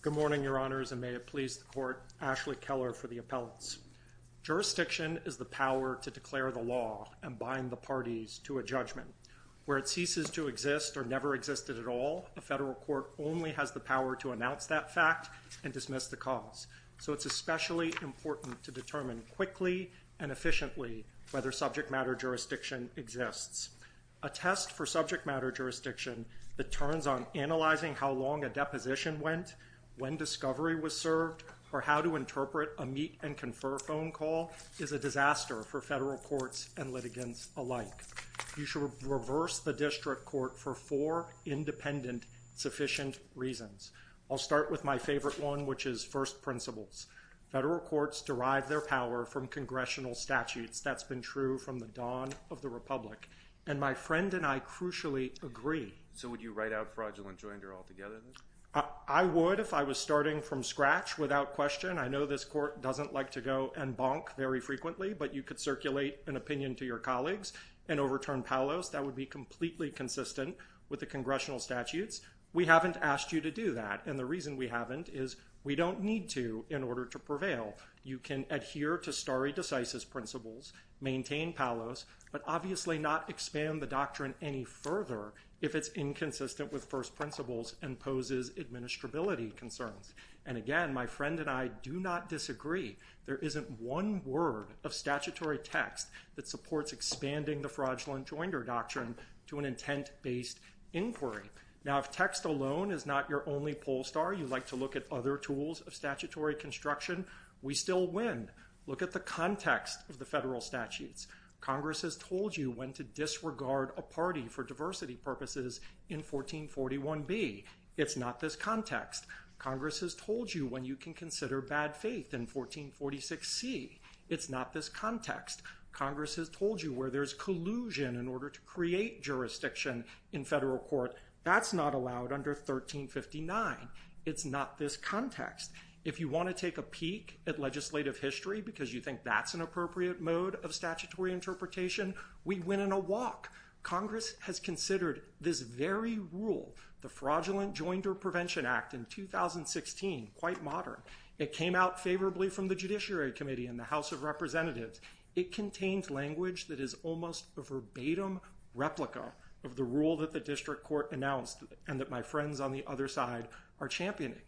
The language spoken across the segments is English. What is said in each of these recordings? Good morning, Your Honors, and may it please the Court, Ashley Keller for the Appellants. Jurisdiction is the power to declare the law and bind the parties to a judgment. Where it ceases to exist or never existed at all, a federal court only has the power to announce that fact and dismiss the cause. So it's especially important to determine quickly and efficiently whether subject matter jurisdiction exists. A test for subject matter jurisdiction that turns on analyzing how long a deposition went, when discovery was served, or how to interpret a meet and confer phone call is a disaster for federal courts and litigants alike. You should reverse the district court for four independent, sufficient reasons. I'll start with my favorite one, which is first principles. Federal courts derive their power from congressional statutes. That's been true from the dawn of the republic, and my friend and I crucially agree. So would you write out fraudulent joinder altogether? I would if I was starting from scratch without question. I know this court doesn't like to go and bonk very frequently, but you could circulate an opinion to your colleagues and overturn Palos. That would be completely consistent with the congressional statutes. We haven't asked you to do that, and the reason we haven't is we don't need to in order to prevail. You can adhere to the very decisive principles, maintain Palos, but obviously not expand the doctrine any further if it's inconsistent with first principles and poses administrability concerns. And again, my friend and I do not disagree. There isn't one word of statutory text that supports expanding the fraudulent joinder doctrine to an intent-based inquiry. Now, if text alone is not your only poll star, you'd like to look at other tools of statutory construction, we still win. Look at the context of the federal statutes. Congress has told you when to disregard a party for diversity purposes in 1441B. It's not this context. Congress has told you when you can consider bad faith in 1446C. It's not this context. Congress has told you where there's collusion in order to create jurisdiction in federal court. That's not allowed under 1359. It's not this context. If you want to take a peek at legislative history because you think that's an appropriate mode of statutory interpretation, we win in a walk. Congress has considered this very rule, the Fraudulent Joinder Prevention Act in 2016, quite modern. It came out favorably from the Judiciary Committee and the House of Representatives. It contained language that is almost a verbatim replica of the rule that the district court announced and that my friends on the other side are championing.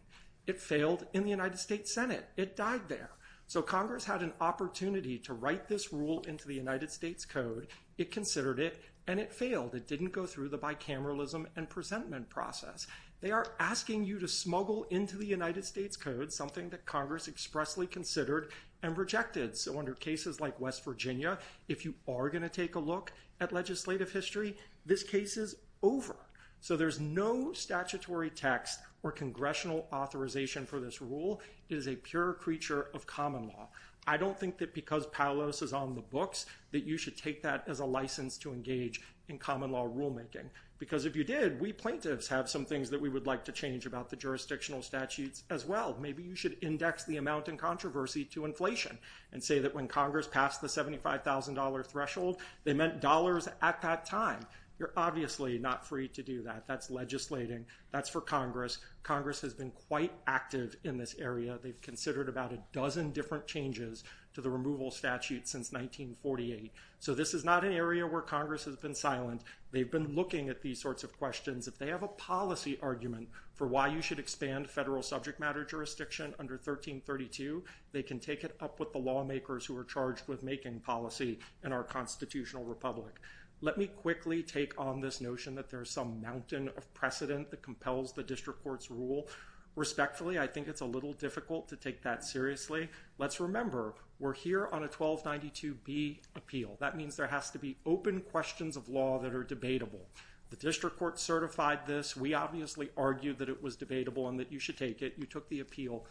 It failed in the United States Senate. It died there. So Congress had an opportunity to write this rule into the United States Code. It considered it, and it failed. It didn't go through the bicameralism and presentment process. They are asking you to smuggle into the United States Code something that Congress expressly considered and rejected. So under cases like West Virginia, if you are going to take a look at legislative history, this case is over. So there's no statutory text or congressional authorization for this rule. It is a pure creature of common law. I don't think that because Palos is on the books that you should take that as a license to engage in common law rulemaking. Because if you did, we plaintiffs have some things that we would like to change about the jurisdictional statutes as well. Maybe you should index the amount in controversy to inflation and say that when Congress passed the $75,000 threshold, they meant dollars at that time. You're obviously not free to do that. That's legislating. That's for Congress. Congress has been quite active in this area. They've considered about a dozen different changes to the removal statute since 1948. So this is not an area where Congress has been silent. They've been looking at these sorts of questions. If they have a policy argument for why you should expand federal subject matter jurisdiction under 1332, they can take it up with the lawmakers who are charged with making policy in our constitutional republic. Let me quickly take on this notion that there's some mountain of precedent that compels the district court's rule. Respectfully, I think it's a little difficult to take that seriously. Let's remember, we're here on a 1292B appeal. That means there has to be open questions of law that are debatable. The district court certified this. We obviously argued that it was debatable and that you should take it. You took the appeal.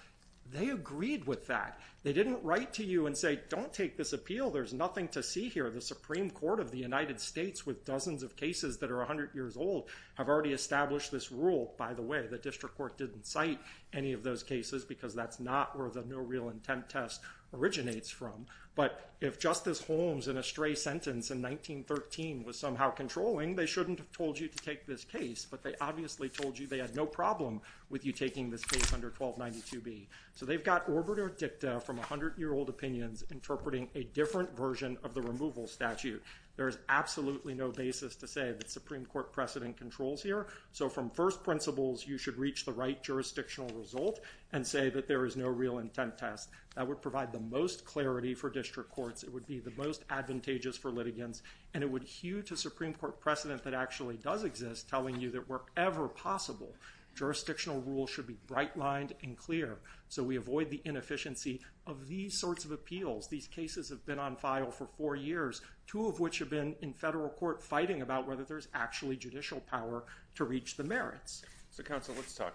They agreed with that. They didn't write to you and say, don't take this appeal. There's nothing to see here. The Supreme Court of the United States, with dozens of cases that are 100 years old, have already established this rule. By the way, the district court didn't cite any of those cases because that's not where the no real intent test originates from. But if Justice Holmes, in a stray sentence in 1913, was somehow controlling, they shouldn't have told you to take this case. But they obviously told you they had no problem with you taking this case under 1292B. So they've got orbiter dicta from 100-year-old opinions interpreting a different version of the removal statute. There is absolutely no basis to say that Supreme Court precedent controls here. So from first principles, you should reach the right jurisdictional result and say that there is no real intent test. That would provide the most clarity for district courts. It would be the most advantageous for litigants. And it would hew to Supreme Court precedent that actually does exist, telling you that wherever possible, jurisdictional rules should be bright lined and clear. So we avoid the inefficiency of these sorts of appeals. These cases have been on file for four years, two of which have been in federal court fighting about whether there's actually judicial power to reach the merits. So, counsel, let's talk.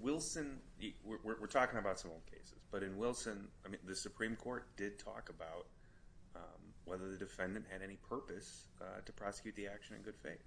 Wilson, we're talking about some old cases. But in Wilson, I mean, the Supreme Court did talk about whether the defendant had any purpose to prosecute the action in good faith.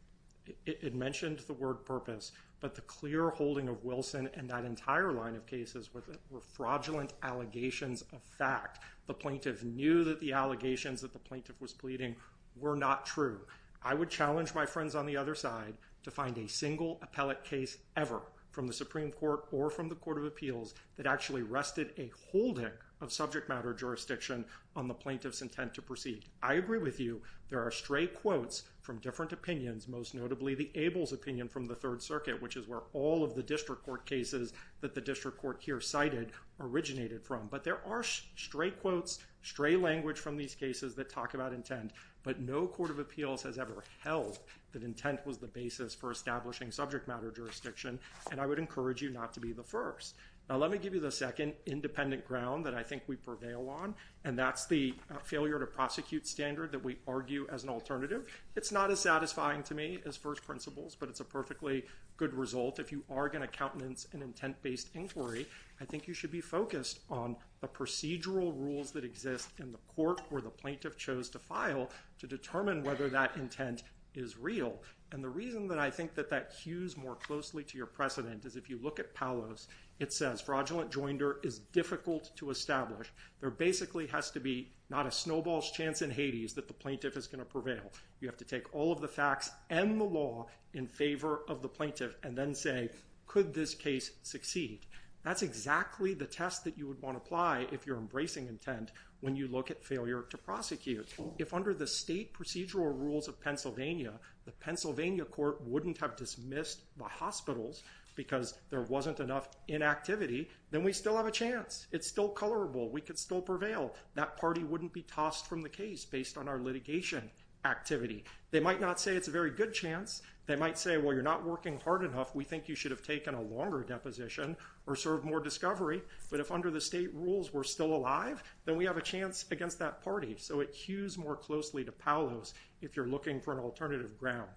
It mentioned the word purpose. But the clear holding of Wilson and that entire line of cases with it were fraudulent allegations of fact. The plaintiff knew that the allegations that the plaintiff was pleading were not true. I would challenge my friends on the other side to find a single appellate case ever from the Supreme Court or from the Court of Appeals that actually rested a holding of subject matter jurisdiction on the plaintiff's intent to proceed. I agree with you. There are stray quotes from different opinions, most notably the Abel's opinion from the Third Circuit, which is where all of the district court cases that the district court here cited originated from. But there are stray quotes, stray language from these cases that talk about intent. But no Court of Appeals has ever held that intent was the basis for establishing subject matter jurisdiction. And I would encourage you not to be the first. Now, let me give you the second independent ground that I think we prevail on. And that's the failure to prosecute standard that we argue as an alternative. It's not as satisfying to me as first principles, but it's a perfectly good result. If you are going to countenance an intent-based inquiry, I think you should be focused on the procedural rules that exist in the court where the plaintiff chose to file to determine whether that intent is real. And the reason that I think that that cues more closely to your precedent is if you look at Palos, it says fraudulent joinder is difficult to establish. There basically has to be not a snowball's chance in Hades that the plaintiff is going to prevail. You have to take all of the facts and the law in favor of the plaintiff and then say, could this case succeed? That's exactly the test that you would want to apply if you're embracing intent when you look at failure to prosecute. If under the state procedural rules of Pennsylvania, the Pennsylvania court wouldn't have dismissed the hospitals because there wasn't enough inactivity, then we still have a chance. It's still colorable. We could still prevail. That party wouldn't be tossed from the case based on our litigation activity. They might not say it's a very good chance. They might say, well, you're not working hard enough. We think you should have taken a longer deposition or served more discovery. But if under the state rules we're still alive, then we have a chance against that party. So it cues more closely to Palos if you're looking for an alternative ground.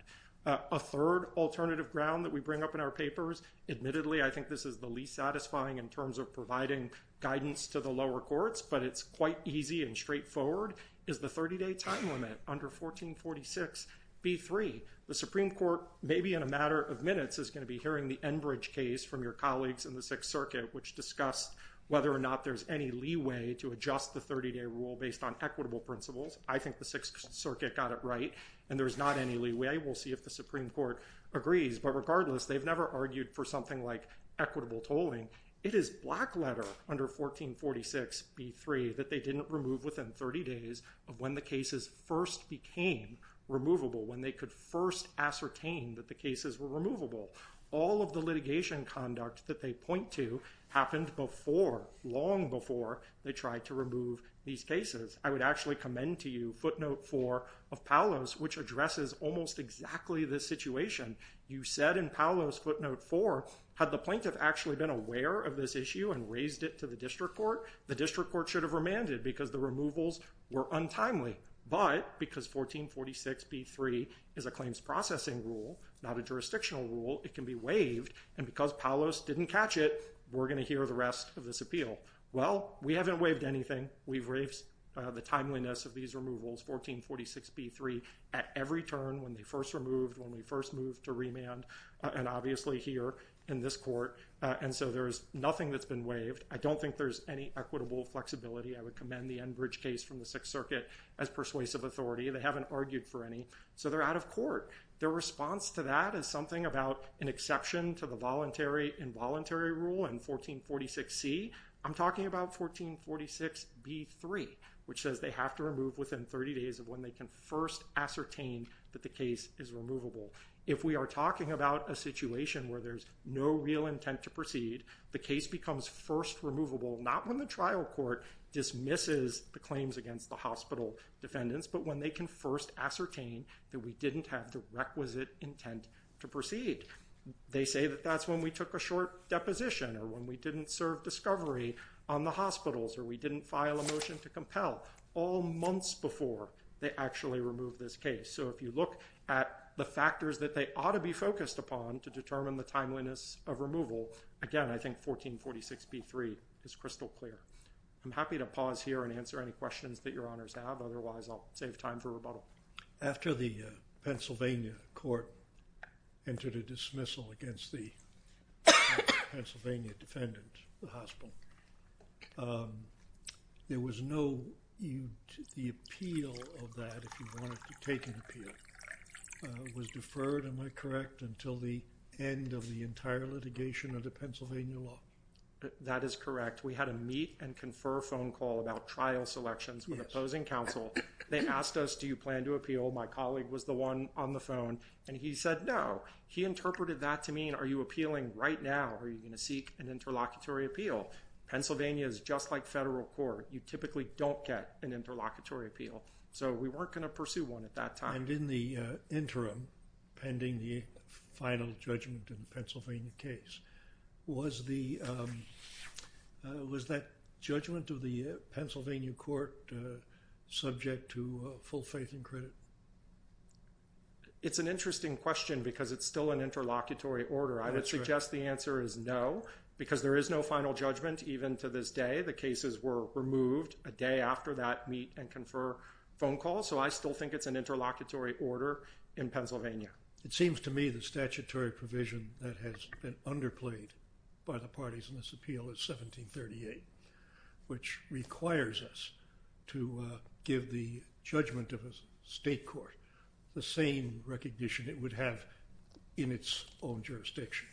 A third alternative ground that we bring up in our papers, admittedly, I think this is the least satisfying in terms of providing guidance to the lower courts, but it's quite easy and straightforward, is the 30-day time limit under 1446b3. The Supreme Court, maybe in a matter of minutes, is going to be hearing the Enbridge case from your colleagues in the Sixth Circuit, which discussed whether or not there's any leeway to adjust the 30-day rule based on equitable principles. I think the Sixth Circuit got it right, and there's not any leeway. We'll see if the Supreme Court agrees. But regardless, they've never argued for something like equitable tolling. It is black letter under 1446b3 that they didn't remove within 30 days of when the cases first became removable, when they could first ascertain that the cases were removable. All of the litigation conduct that they point to happened before, long before, they tried to remove these cases. I would actually commend to you footnote 4 of Palos, which addresses almost exactly this situation. You said in Palos footnote 4, had the plaintiff actually been aware of this issue and raised it to the district court, the district court should have remanded because the removals were untimely. But because 1446b3 is a claims processing rule, not a jurisdictional rule, it can be waived. And because Palos didn't catch it, we're going to hear the rest of this appeal. Well, we haven't waived anything. We've waived the timeliness of these removals, 1446b3, at every turn when they first removed, when we first moved to remand, and obviously here in this court. And so there's nothing that's been waived. I don't think there's any equitable flexibility. I would commend the Enbridge case from the Sixth Circuit as persuasive authority. They haven't argued for any. So they're out of court. Their response to that is something about an exception to the involuntary rule in 1446c. I'm talking about 1446b3, which says they have to remove within 30 days of when they can first ascertain that the case is removable. If we are talking about a situation where there's no real intent to proceed, the case becomes first removable, not when the trial court dismisses the claims against the hospital defendants, but when they can first ascertain that we didn't have the requisite intent to proceed. They say that that's when we took a short deposition, or when we didn't serve discovery on the hospitals, or we didn't file a motion to compel. All months before they actually removed this case. So if you look at the factors that they ought to be focused upon to determine the timeliness of removal, again, I think 1446b3 is crystal clear. I'm happy to pause here and answer any questions that your honors have. Otherwise, I'll save time for rebuttal. After the Pennsylvania court entered a dismissal against the Pennsylvania defendant, the hospital, there was no, the appeal of that, if you wanted to take an appeal, was deferred, am I correct, until the end of the entire litigation under Pennsylvania law? That is correct. We had a meet and confer phone call about trial selections with opposing counsel. They asked us, do you plan to appeal? My colleague was the one on the phone, and he said no. He interpreted that to mean, are you appealing right now? Are you going to seek an interlocutory appeal? Pennsylvania is just like federal court. You typically don't get an interlocutory appeal. So we weren't going to pursue one at that time. And in the interim, pending the final judgment in the Pennsylvania case, was that judgment of the Pennsylvania court subject to full faith and credit? It's an interesting question because it's still an interlocutory order. I would suggest the answer is no, because there is no final judgment even to this day. The cases were removed a day after that meet and confer phone call, so I still think it's an interlocutory order in Pennsylvania. It seems to me the statutory provision that has been underplayed by the parties in this appeal is 1738, which requires us to give the judgment of a state court the same recognition it would have in its own jurisdiction.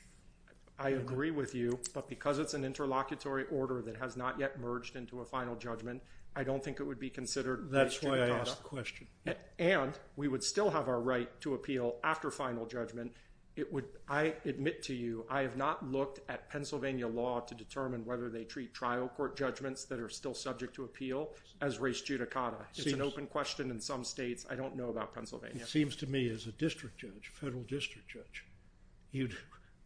I agree with you, but because it's an interlocutory order that has not yet merged into a final judgment, I don't think it would be considered race judicata. And we would still have our right to appeal after final judgment. I admit to you, I have not looked at Pennsylvania law to determine whether they treat trial court judgments that are still subject to appeal as race judicata. It's an open question in some states. I don't know about Pennsylvania. It seems to me as a district judge, federal district judge, you'd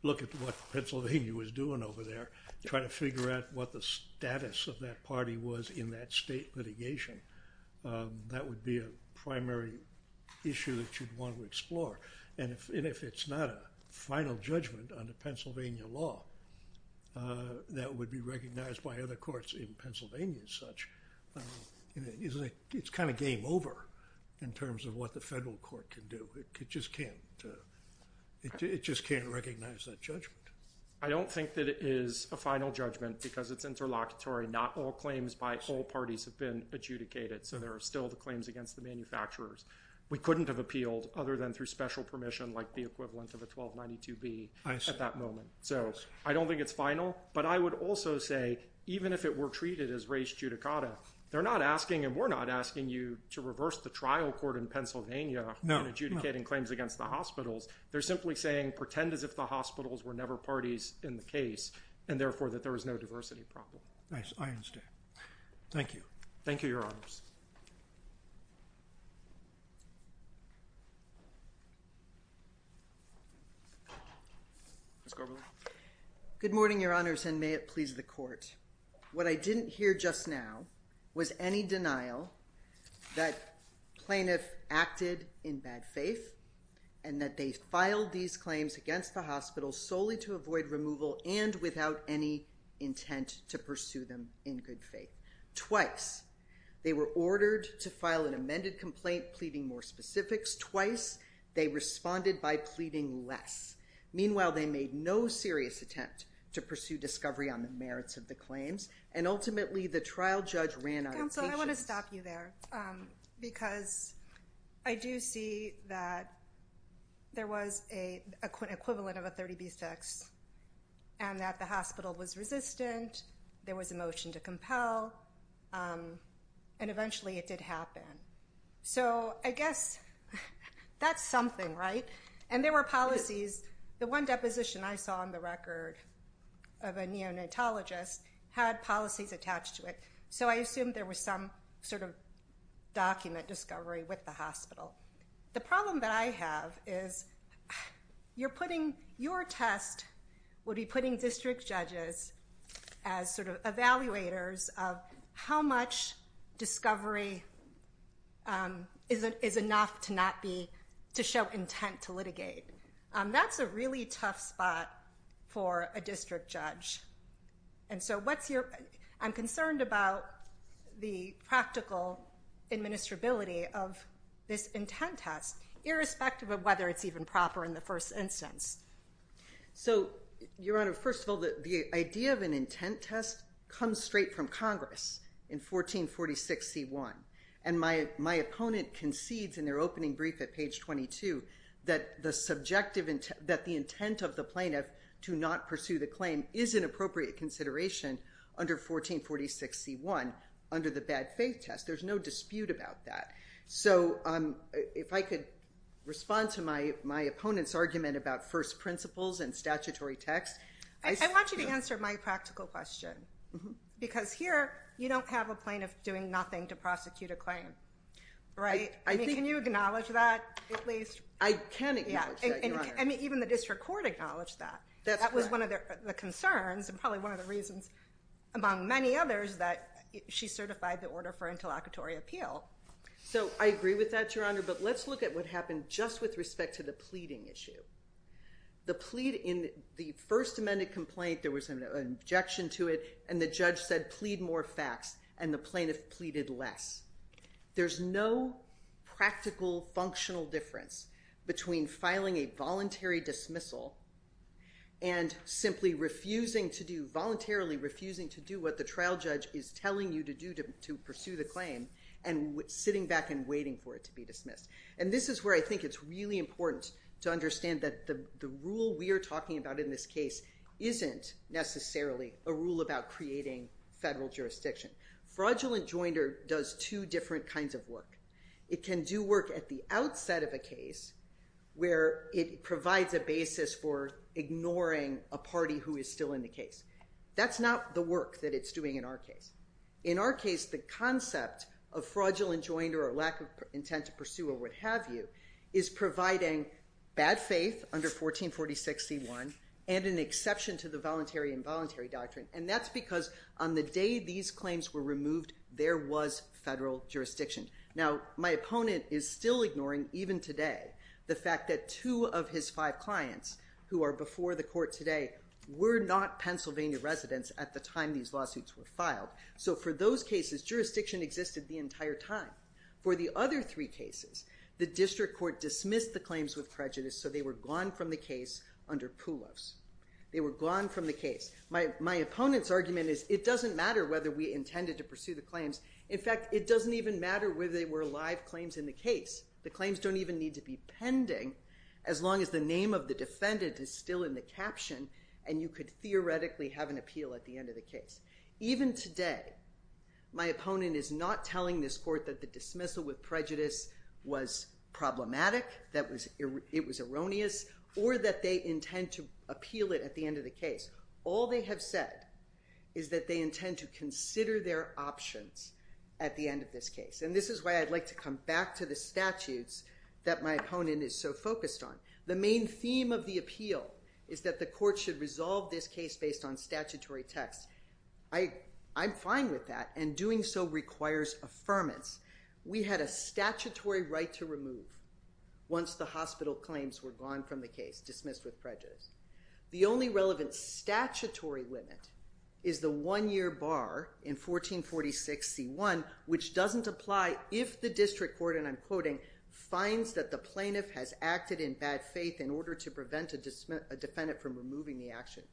look at what Pennsylvania was doing over there, trying to figure out what the status of that party was in that state litigation. That would be a primary issue that you'd want to explore, and if it's not a final judgment under Pennsylvania law that would be recognized by other courts in Pennsylvania as such, it's kind of game over in terms of what the federal court can do. It just can't recognize that judgment. I don't think that it is a final judgment because it's interlocutory. Not all claims by all parties have been adjudicated, so there are still the claims against the manufacturers. We couldn't have appealed other than through special permission like the equivalent of a 1292B at that moment. So I don't think it's final, but I would also say even if it were treated as race judicata, they're not asking, and we're not asking you to reverse the trial court in Pennsylvania in adjudicating claims against the hospitals. They're simply saying pretend as if the hospitals were never parties in the case, and therefore that there was no diversity problem. Nice. I understand. Thank you. Thank you, Your Honors. Ms. Gorbely? Good morning, Your Honors, and may it please the Court. What I didn't hear just now was any denial that plaintiff acted in bad faith and that they filed these claims against the hospital solely to avoid removal and without any intent to pursue them in good faith. Twice they were ordered to file an amended complaint pleading more specifics. Twice they responded by pleading less. Meanwhile, they made no serious attempt to pursue discovery on the merits of the claims, and ultimately the trial judge ran out of patience. Counsel, I want to stop you there because I do see that there was an equivalent of a 30B6 and that the hospital was resistant, there was a motion to compel, and eventually it did happen. So I guess that's something, right? And there were policies. The one deposition I saw on the record of a neonatologist had policies attached to it, so I assumed there was some sort of document discovery with the hospital. The problem that I have is you're putting your test would be putting district judges as sort of evaluators of how much discovery is enough to show intent to litigate. That's a really tough spot for a district judge. And so I'm concerned about the practical administrability of this intent test, irrespective of whether it's even proper in the first instance. So, Your Honor, first of all, the idea of an intent test comes straight from Congress in 1446C1, and my opponent concedes in their opening brief at page 22 that the intent of the plaintiff to not pursue the claim is an appropriate consideration under 1446C1 under the bad test. There's no dispute about that. So if I could respond to my opponent's argument about first principles and statutory text. I want you to answer my practical question, because here you don't have a plaintiff doing nothing to prosecute a claim, right? I mean, can you acknowledge that at least? I can acknowledge that, Your Honor. I mean, even the district court acknowledged that. That was one of the concerns and probably one of the reasons, among many others, that she certified the order for interlocutory appeal. So I agree with that, Your Honor, but let's look at what happened just with respect to the pleading issue. The plea in the first amended complaint, there was an objection to it, and the judge said plead more facts, and the plaintiff pleaded less. There's no practical functional difference between filing a voluntary dismissal and simply refusing to do, voluntarily refusing to do what the trial judge is telling you to do to pursue the claim and sitting back and waiting for it to be dismissed. And this is where I think it's really important to understand that the rule we are talking about in this case isn't necessarily a rule about creating federal jurisdiction. Fraudulent joinder does two different kinds of work. It can do work at the outset of a case where it provides a basis for ignoring a party who is still in the case. That's not the work that it's doing in our case. In our case, the concept of fraudulent joinder or lack of intent to pursue or what have you is providing bad faith under 1446 C1 and an exception to the voluntary doctrine. And that's because on the day these claims were removed, there was federal jurisdiction. Now, my opponent is still ignoring, even today, the fact that two of his five clients who are before the court today were not Pennsylvania residents at the time these lawsuits were filed. So for those cases, jurisdiction existed the entire time. For the other three cases, the district court dismissed the claims with prejudice, so they were gone from the case under PULOS. They were gone from the case. My opponent's argument is it doesn't matter whether we intended to pursue the claims. In fact, it doesn't even matter whether they were live claims in the case. The claims don't even need to be pending as long as the name of the defendant is still in the caption and you could theoretically have an appeal at the end of the case. Even today, my opponent is not telling this court that the dismissal with prejudice was problematic, that it was erroneous, or that they intend to appeal it at the end of the case. All they have said is that they intend to consider their options at the end of this case, and this is why I'd like to come back to the statutes that my opponent is so focused on. The main theme of the appeal is that the court should resolve this case based on statutory text. I'm fine with that, and doing so requires affirmance. We had a statutory right to remove once the hospital claims were gone from the case, dismissed with prejudice. The only relevant statutory limit is the one-year bar in 1446c1, which doesn't apply if the district court, and I'm quoting, finds that the plaintiff has acted in bad faith in order to prevent a defendant from removing the action.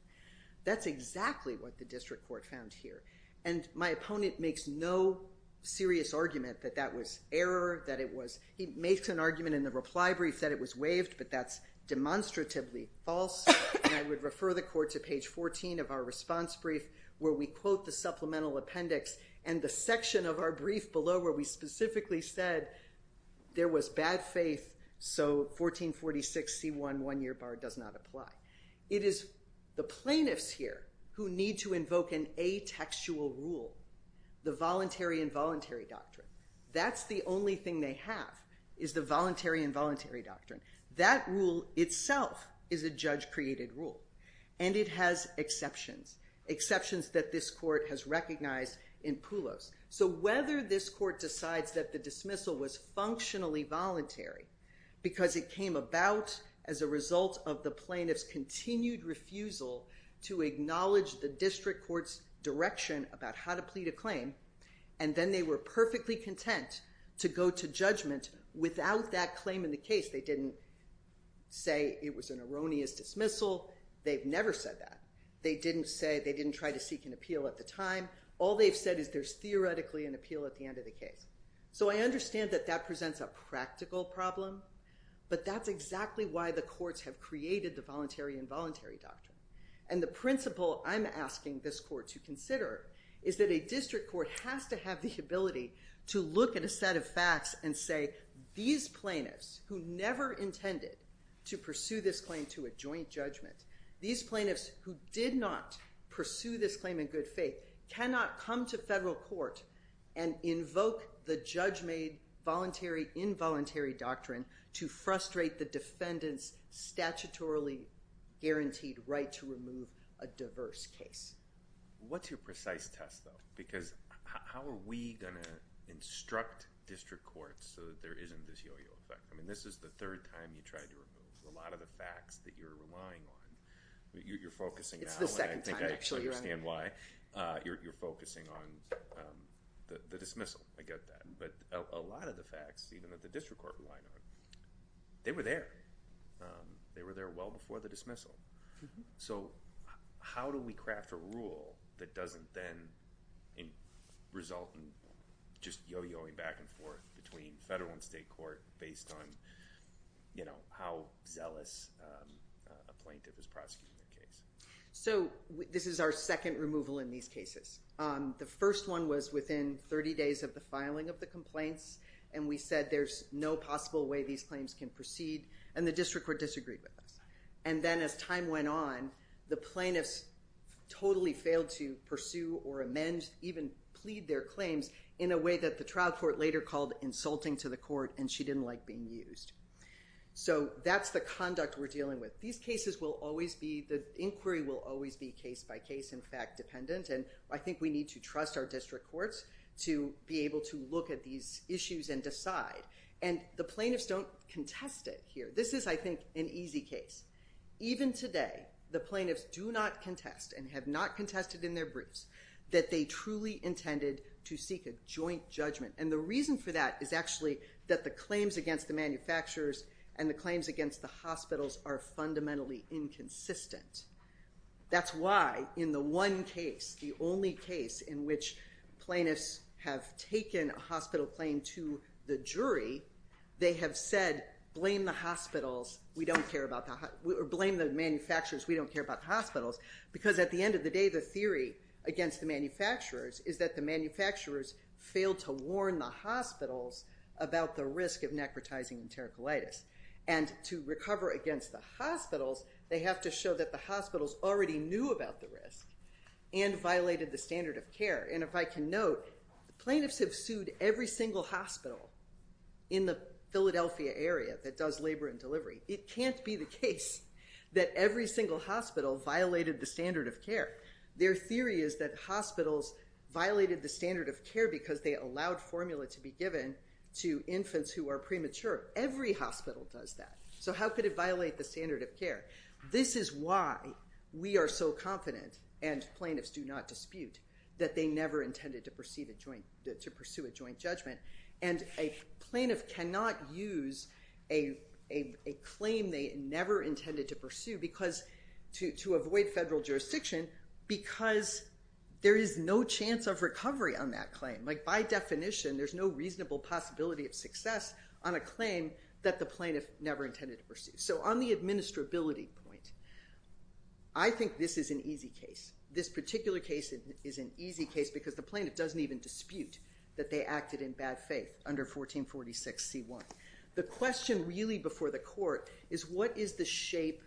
That's exactly what the district court found here, and my opponent makes no serious argument that that was error, that it was, he makes an argument in the reply brief that it was waived, but that's demonstratively false, and I would refer the court to page 14 of our response brief where we quote the supplemental appendix and the section of our does not apply. It is the plaintiffs here who need to invoke an atextual rule, the voluntary involuntary doctrine. That's the only thing they have, is the voluntary involuntary doctrine. That rule itself is a judge-created rule, and it has exceptions, exceptions that this court has recognized in Poulos. So whether this court decides that the dismissal was functionally involuntary because it came about as a result of the plaintiff's continued refusal to acknowledge the district court's direction about how to plead a claim, and then they were perfectly content to go to judgment without that claim in the case. They didn't say it was an erroneous dismissal. They've never said that. They didn't say, they didn't try to seek an appeal at the time. All they've said is there's theoretically an appeal at the end of the case. So I understand that that presents a practical problem, but that's exactly why the courts have created the voluntary involuntary doctrine. And the principle I'm asking this court to consider is that a district court has to have the ability to look at a set of facts and say these plaintiffs who never intended to pursue this claim to a joint judgment, these plaintiffs who did not pursue this claim in good court, and invoke the judge-made voluntary involuntary doctrine to frustrate the defendant's statutorily guaranteed right to remove a diverse case. What's your precise test though? Because how are we going to instruct district courts so that there isn't this yo-yo effect? I mean this is the third time you tried to remove a lot of the facts that you're relying on. You're focusing now, and I think I actually understand why. You're focusing on the dismissal. I get that. But a lot of the facts, even that the district court relied on, they were there. They were there well before the dismissal. So how do we craft a rule that doesn't then result in just yo-yoing back and forth between federal and state court based on, you know, how zealous a plaintiff is prosecuting the case? So this is our second removal in these cases. The first one was within 30 days of the filing of the complaints, and we said there's no possible way these claims can proceed, and the district court disagreed with us. And then as time went on, the plaintiffs totally failed to pursue or amend, even plead their claims in a way that the trial court later called insulting to the court, and she didn't like being used. So that's the conduct we're dealing with. These cases will always be, the inquiry will always be case by case, in fact, dependent, and I think we need to trust our district courts to be able to look at these issues and decide. And the plaintiffs don't contest it here. This is, I think, an easy case. Even today, the plaintiffs do not contest and have not contested in their briefs that they truly intended to seek a joint judgment, and the reason for that is actually that the claims against the manufacturers and the claims against the hospitals are fundamentally inconsistent. That's why, in the one case, the only case in which plaintiffs have taken a hospital claim to the jury, they have said, blame the hospitals, we don't care about the, or blame the manufacturers, we don't care about the hospitals, because at the end of the day, the theory against the manufacturers is that the manufacturers failed to warn the hospitals about the risk of necrotizing enterocolitis, and to recover against the hospitals, they have to show that the hospitals already knew about the risk and violated the standard of care. And if I can note, plaintiffs have sued every single hospital in the Philadelphia area that does labor and delivery. It can't be the case that every single hospital violated the standard of care. Their theory is that hospitals violated the standard of care because they allowed formula to be given to infants who are premature. Every hospital does that. So how could it violate the standard of care? This is why we are so confident, and plaintiffs do not dispute, that they never intended to pursue a joint judgment, and a plaintiff cannot use a claim they never intended to pursue because, to avoid federal jurisdiction, because there is no chance of recovery on that claim. Like by definition, there's no reasonable possibility of success on a claim that the plaintiff never intended to pursue. So on the administrability point, I think this is an easy case. This particular case is an easy case because the plaintiff doesn't even dispute that they acted in bad faith under 1446c1. The question really before the court is, what is the shape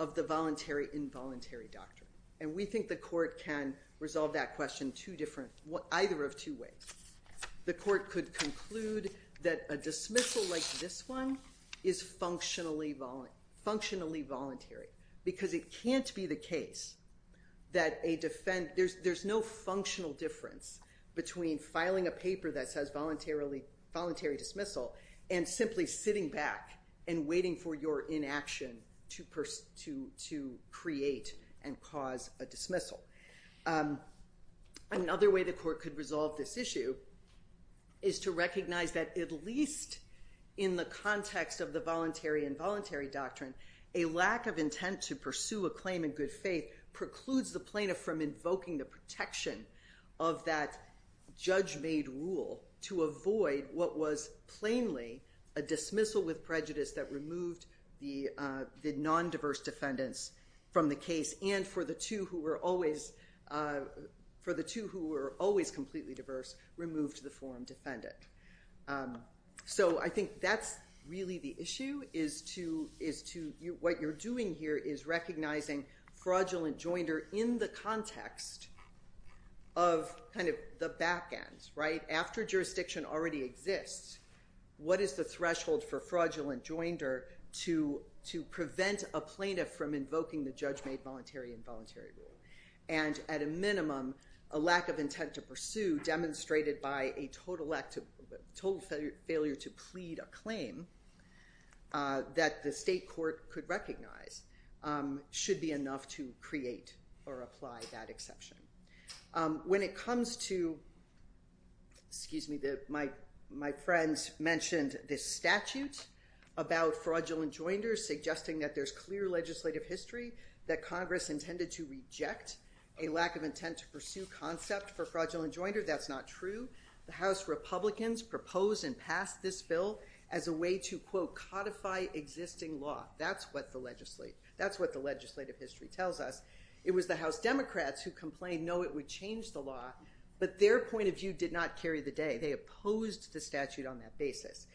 of the voluntary-involuntary doctrine? And we think the court can resolve that question either of two ways. The court could conclude that a dismissal like this one is functionally voluntary, because it can't be the case that there's no functional difference between filing a paper that says voluntary dismissal and simply sitting back and waiting for your inaction to create and cause a dismissal. Another way the court could resolve this issue is to recognize that at least in the context of the voluntary-involuntary doctrine, a lack of intent to pursue a claim in good faith precludes the plaintiff from invoking the protection of that judge-made rule to avoid what was plainly a dismissal with prejudice that removed the non-diverse defendants from the case, and for the two who were always completely diverse, removed the form defendant. So I think that's really the issue. What you're doing here is recognizing fraudulent joinder in the context of the back end. After jurisdiction already exists, what is the threshold for fraudulent joinder to prevent a plaintiff from invoking the judge-made voluntary-involuntary rule? And at a minimum, a lack of intent to pursue demonstrated by a total failure to plead a claim that the state court could recognize should be enough to create or apply that exception. When it comes to, excuse me, my friends mentioned this statute about fraudulent joinders, suggesting that there's clear legislative history that Congress intended to reject a lack of intent to pursue concept for fraudulent joinder. That's not true. The House Republicans propose and pass this bill as a way to, quote, codify existing law. That's what the legislative history tells us. It was the House Democrats who complained, no, it would change the law, but their point of view did not carry the day. They opposed the statute on that basis.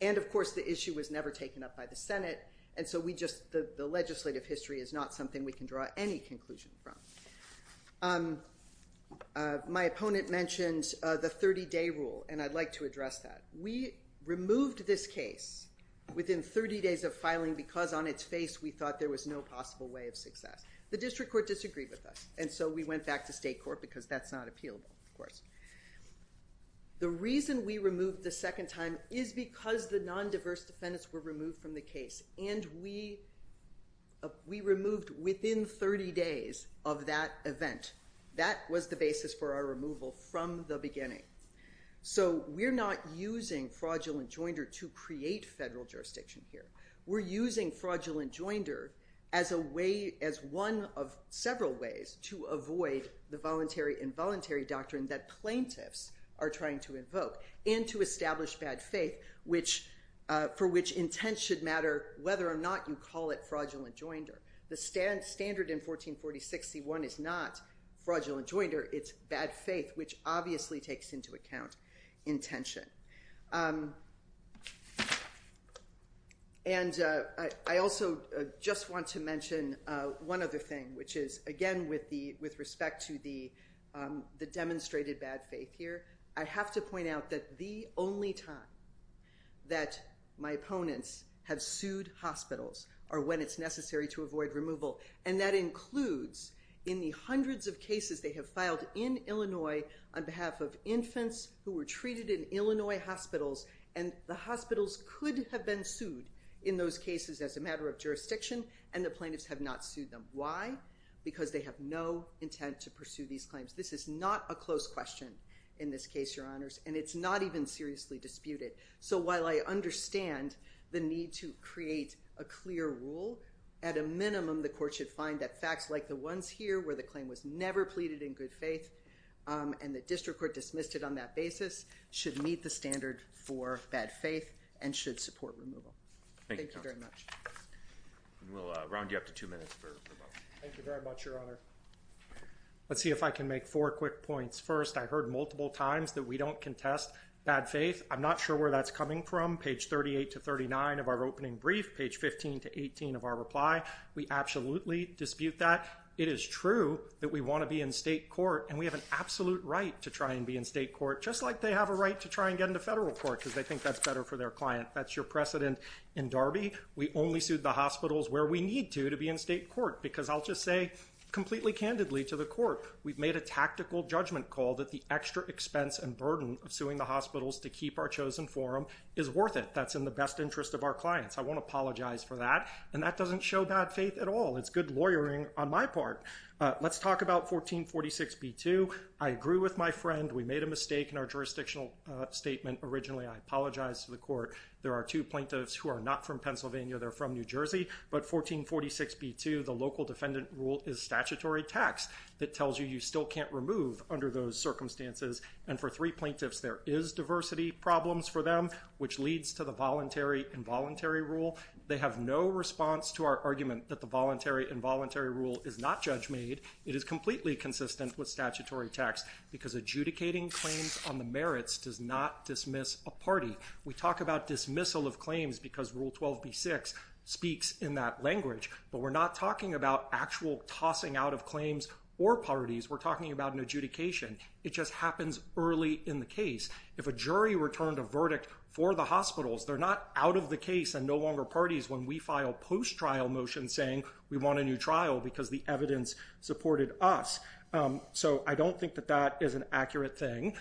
And of course, the issue was never taken up by the Senate, and so the legislative history is not something we can draw any conclusion from. My opponent mentioned the 30-day rule, and I'd like to address that. We removed this case within 30 days of filing because on its face we thought there was no possible way of success. The district court disagreed with us, and so we went back to state court because that's not appealable, of course. The reason we removed the second time is because the non-diverse defendants were removed from the case, and we removed within 30 days of that event. That was the basis for our removal from the beginning. So we're not using fraudulent joinder to create federal jurisdiction here. We're using fraudulent joinder as one of several ways to avoid the voluntary-involuntary doctrine that plaintiffs are trying to invoke and to establish bad faith for which intent should matter whether or not you call it fraudulent joinder. The standard in 1446C1 is not fraudulent joinder. It's bad faith, which obviously takes into account intention. And I also just want to mention one other thing, which is, again, with respect to the demonstrated bad faith here, I have to point out that the only time that my opponents have sued hospitals are when it's necessary to avoid removal, and that includes in the hundreds of cases they have filed in Illinois on behalf of infants who were treated in Illinois hospitals, and the hospitals could have been sued in those cases as a matter of jurisdiction, and the plaintiffs have not sued them. Why? Because they have no intent to pursue these claims. This is not a close question in this case, Your Honors, and it's not even seriously disputed. So while I understand the need to create a clear rule, at a minimum the Court should find that facts like the ones here where the claim was never pleaded in good faith and the District Court dismissed it on that basis should meet the standard for bad faith and should support removal. Thank you very much. We'll round you up to two minutes. Thank you very much, Your Honor. Let's see if I can make four quick points. First, I heard multiple times that we don't contest bad faith. I'm not sure where that's coming from. Page 38 to 39 of our opening brief, page 15 to 18 of our reply, we absolutely dispute that. It is true that we want to be in state court, and we have an absolute right to try and be in state court, just like they have a right to try and get into federal court because they think that's better for their client. That's your precedent in Darby. We only sued the hospitals where we need to to be in state court, because I'll just say completely candidly to the Court, we've made a tactical judgment call that the extra expense and burden of suing the hospitals to keep our chosen forum is worth it. That's in the best interest of our clients. I won't apologize for that, and that doesn't show bad faith at all. It's good lawyering on my part. Let's talk about 1446b2. I agree with my friend. We made a mistake in our jurisdictional statement originally. I apologize to the Court. There are two plaintiffs who are not from Pennsylvania. They're from New Jersey, but 1446b2, the local defendant rule, is statutory tax that tells you you still can't remove under those circumstances, and for three plaintiffs, there is diversity problems for them, which leads to the voluntary-involuntary rule. They have no response to our argument that the voluntary-involuntary rule is not judge-made. It is completely consistent with statutory tax because adjudicating claims on the merits does not dismiss a party. We talk about dismissal of claims because Rule 12b6 speaks in that language, but we're not talking about actual tossing out of claims or parties. We're talking about an adjudication. It just happens early in the case. If a jury returned a verdict for the hospitals, they're not out of the case and no longer parties when we file post-trial motions saying we want a new trial because the evidence supported us. So I don't think that that is an accurate thing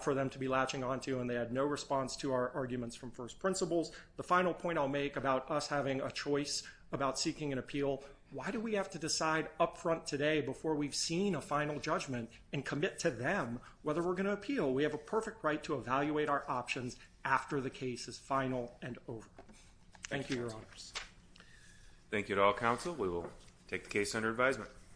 for them to be latching onto, and they had no response to our arguments from first principles. The final point I'll make about us having a choice about seeking an appeal, why do we have to decide up front today before we've seen a final judgment and commit to them whether we're going to appeal? We have a perfect right to evaluate our options after the case is final and over. Thank you, Your Honors. Thank you to all counsel. We will take the case under advisement.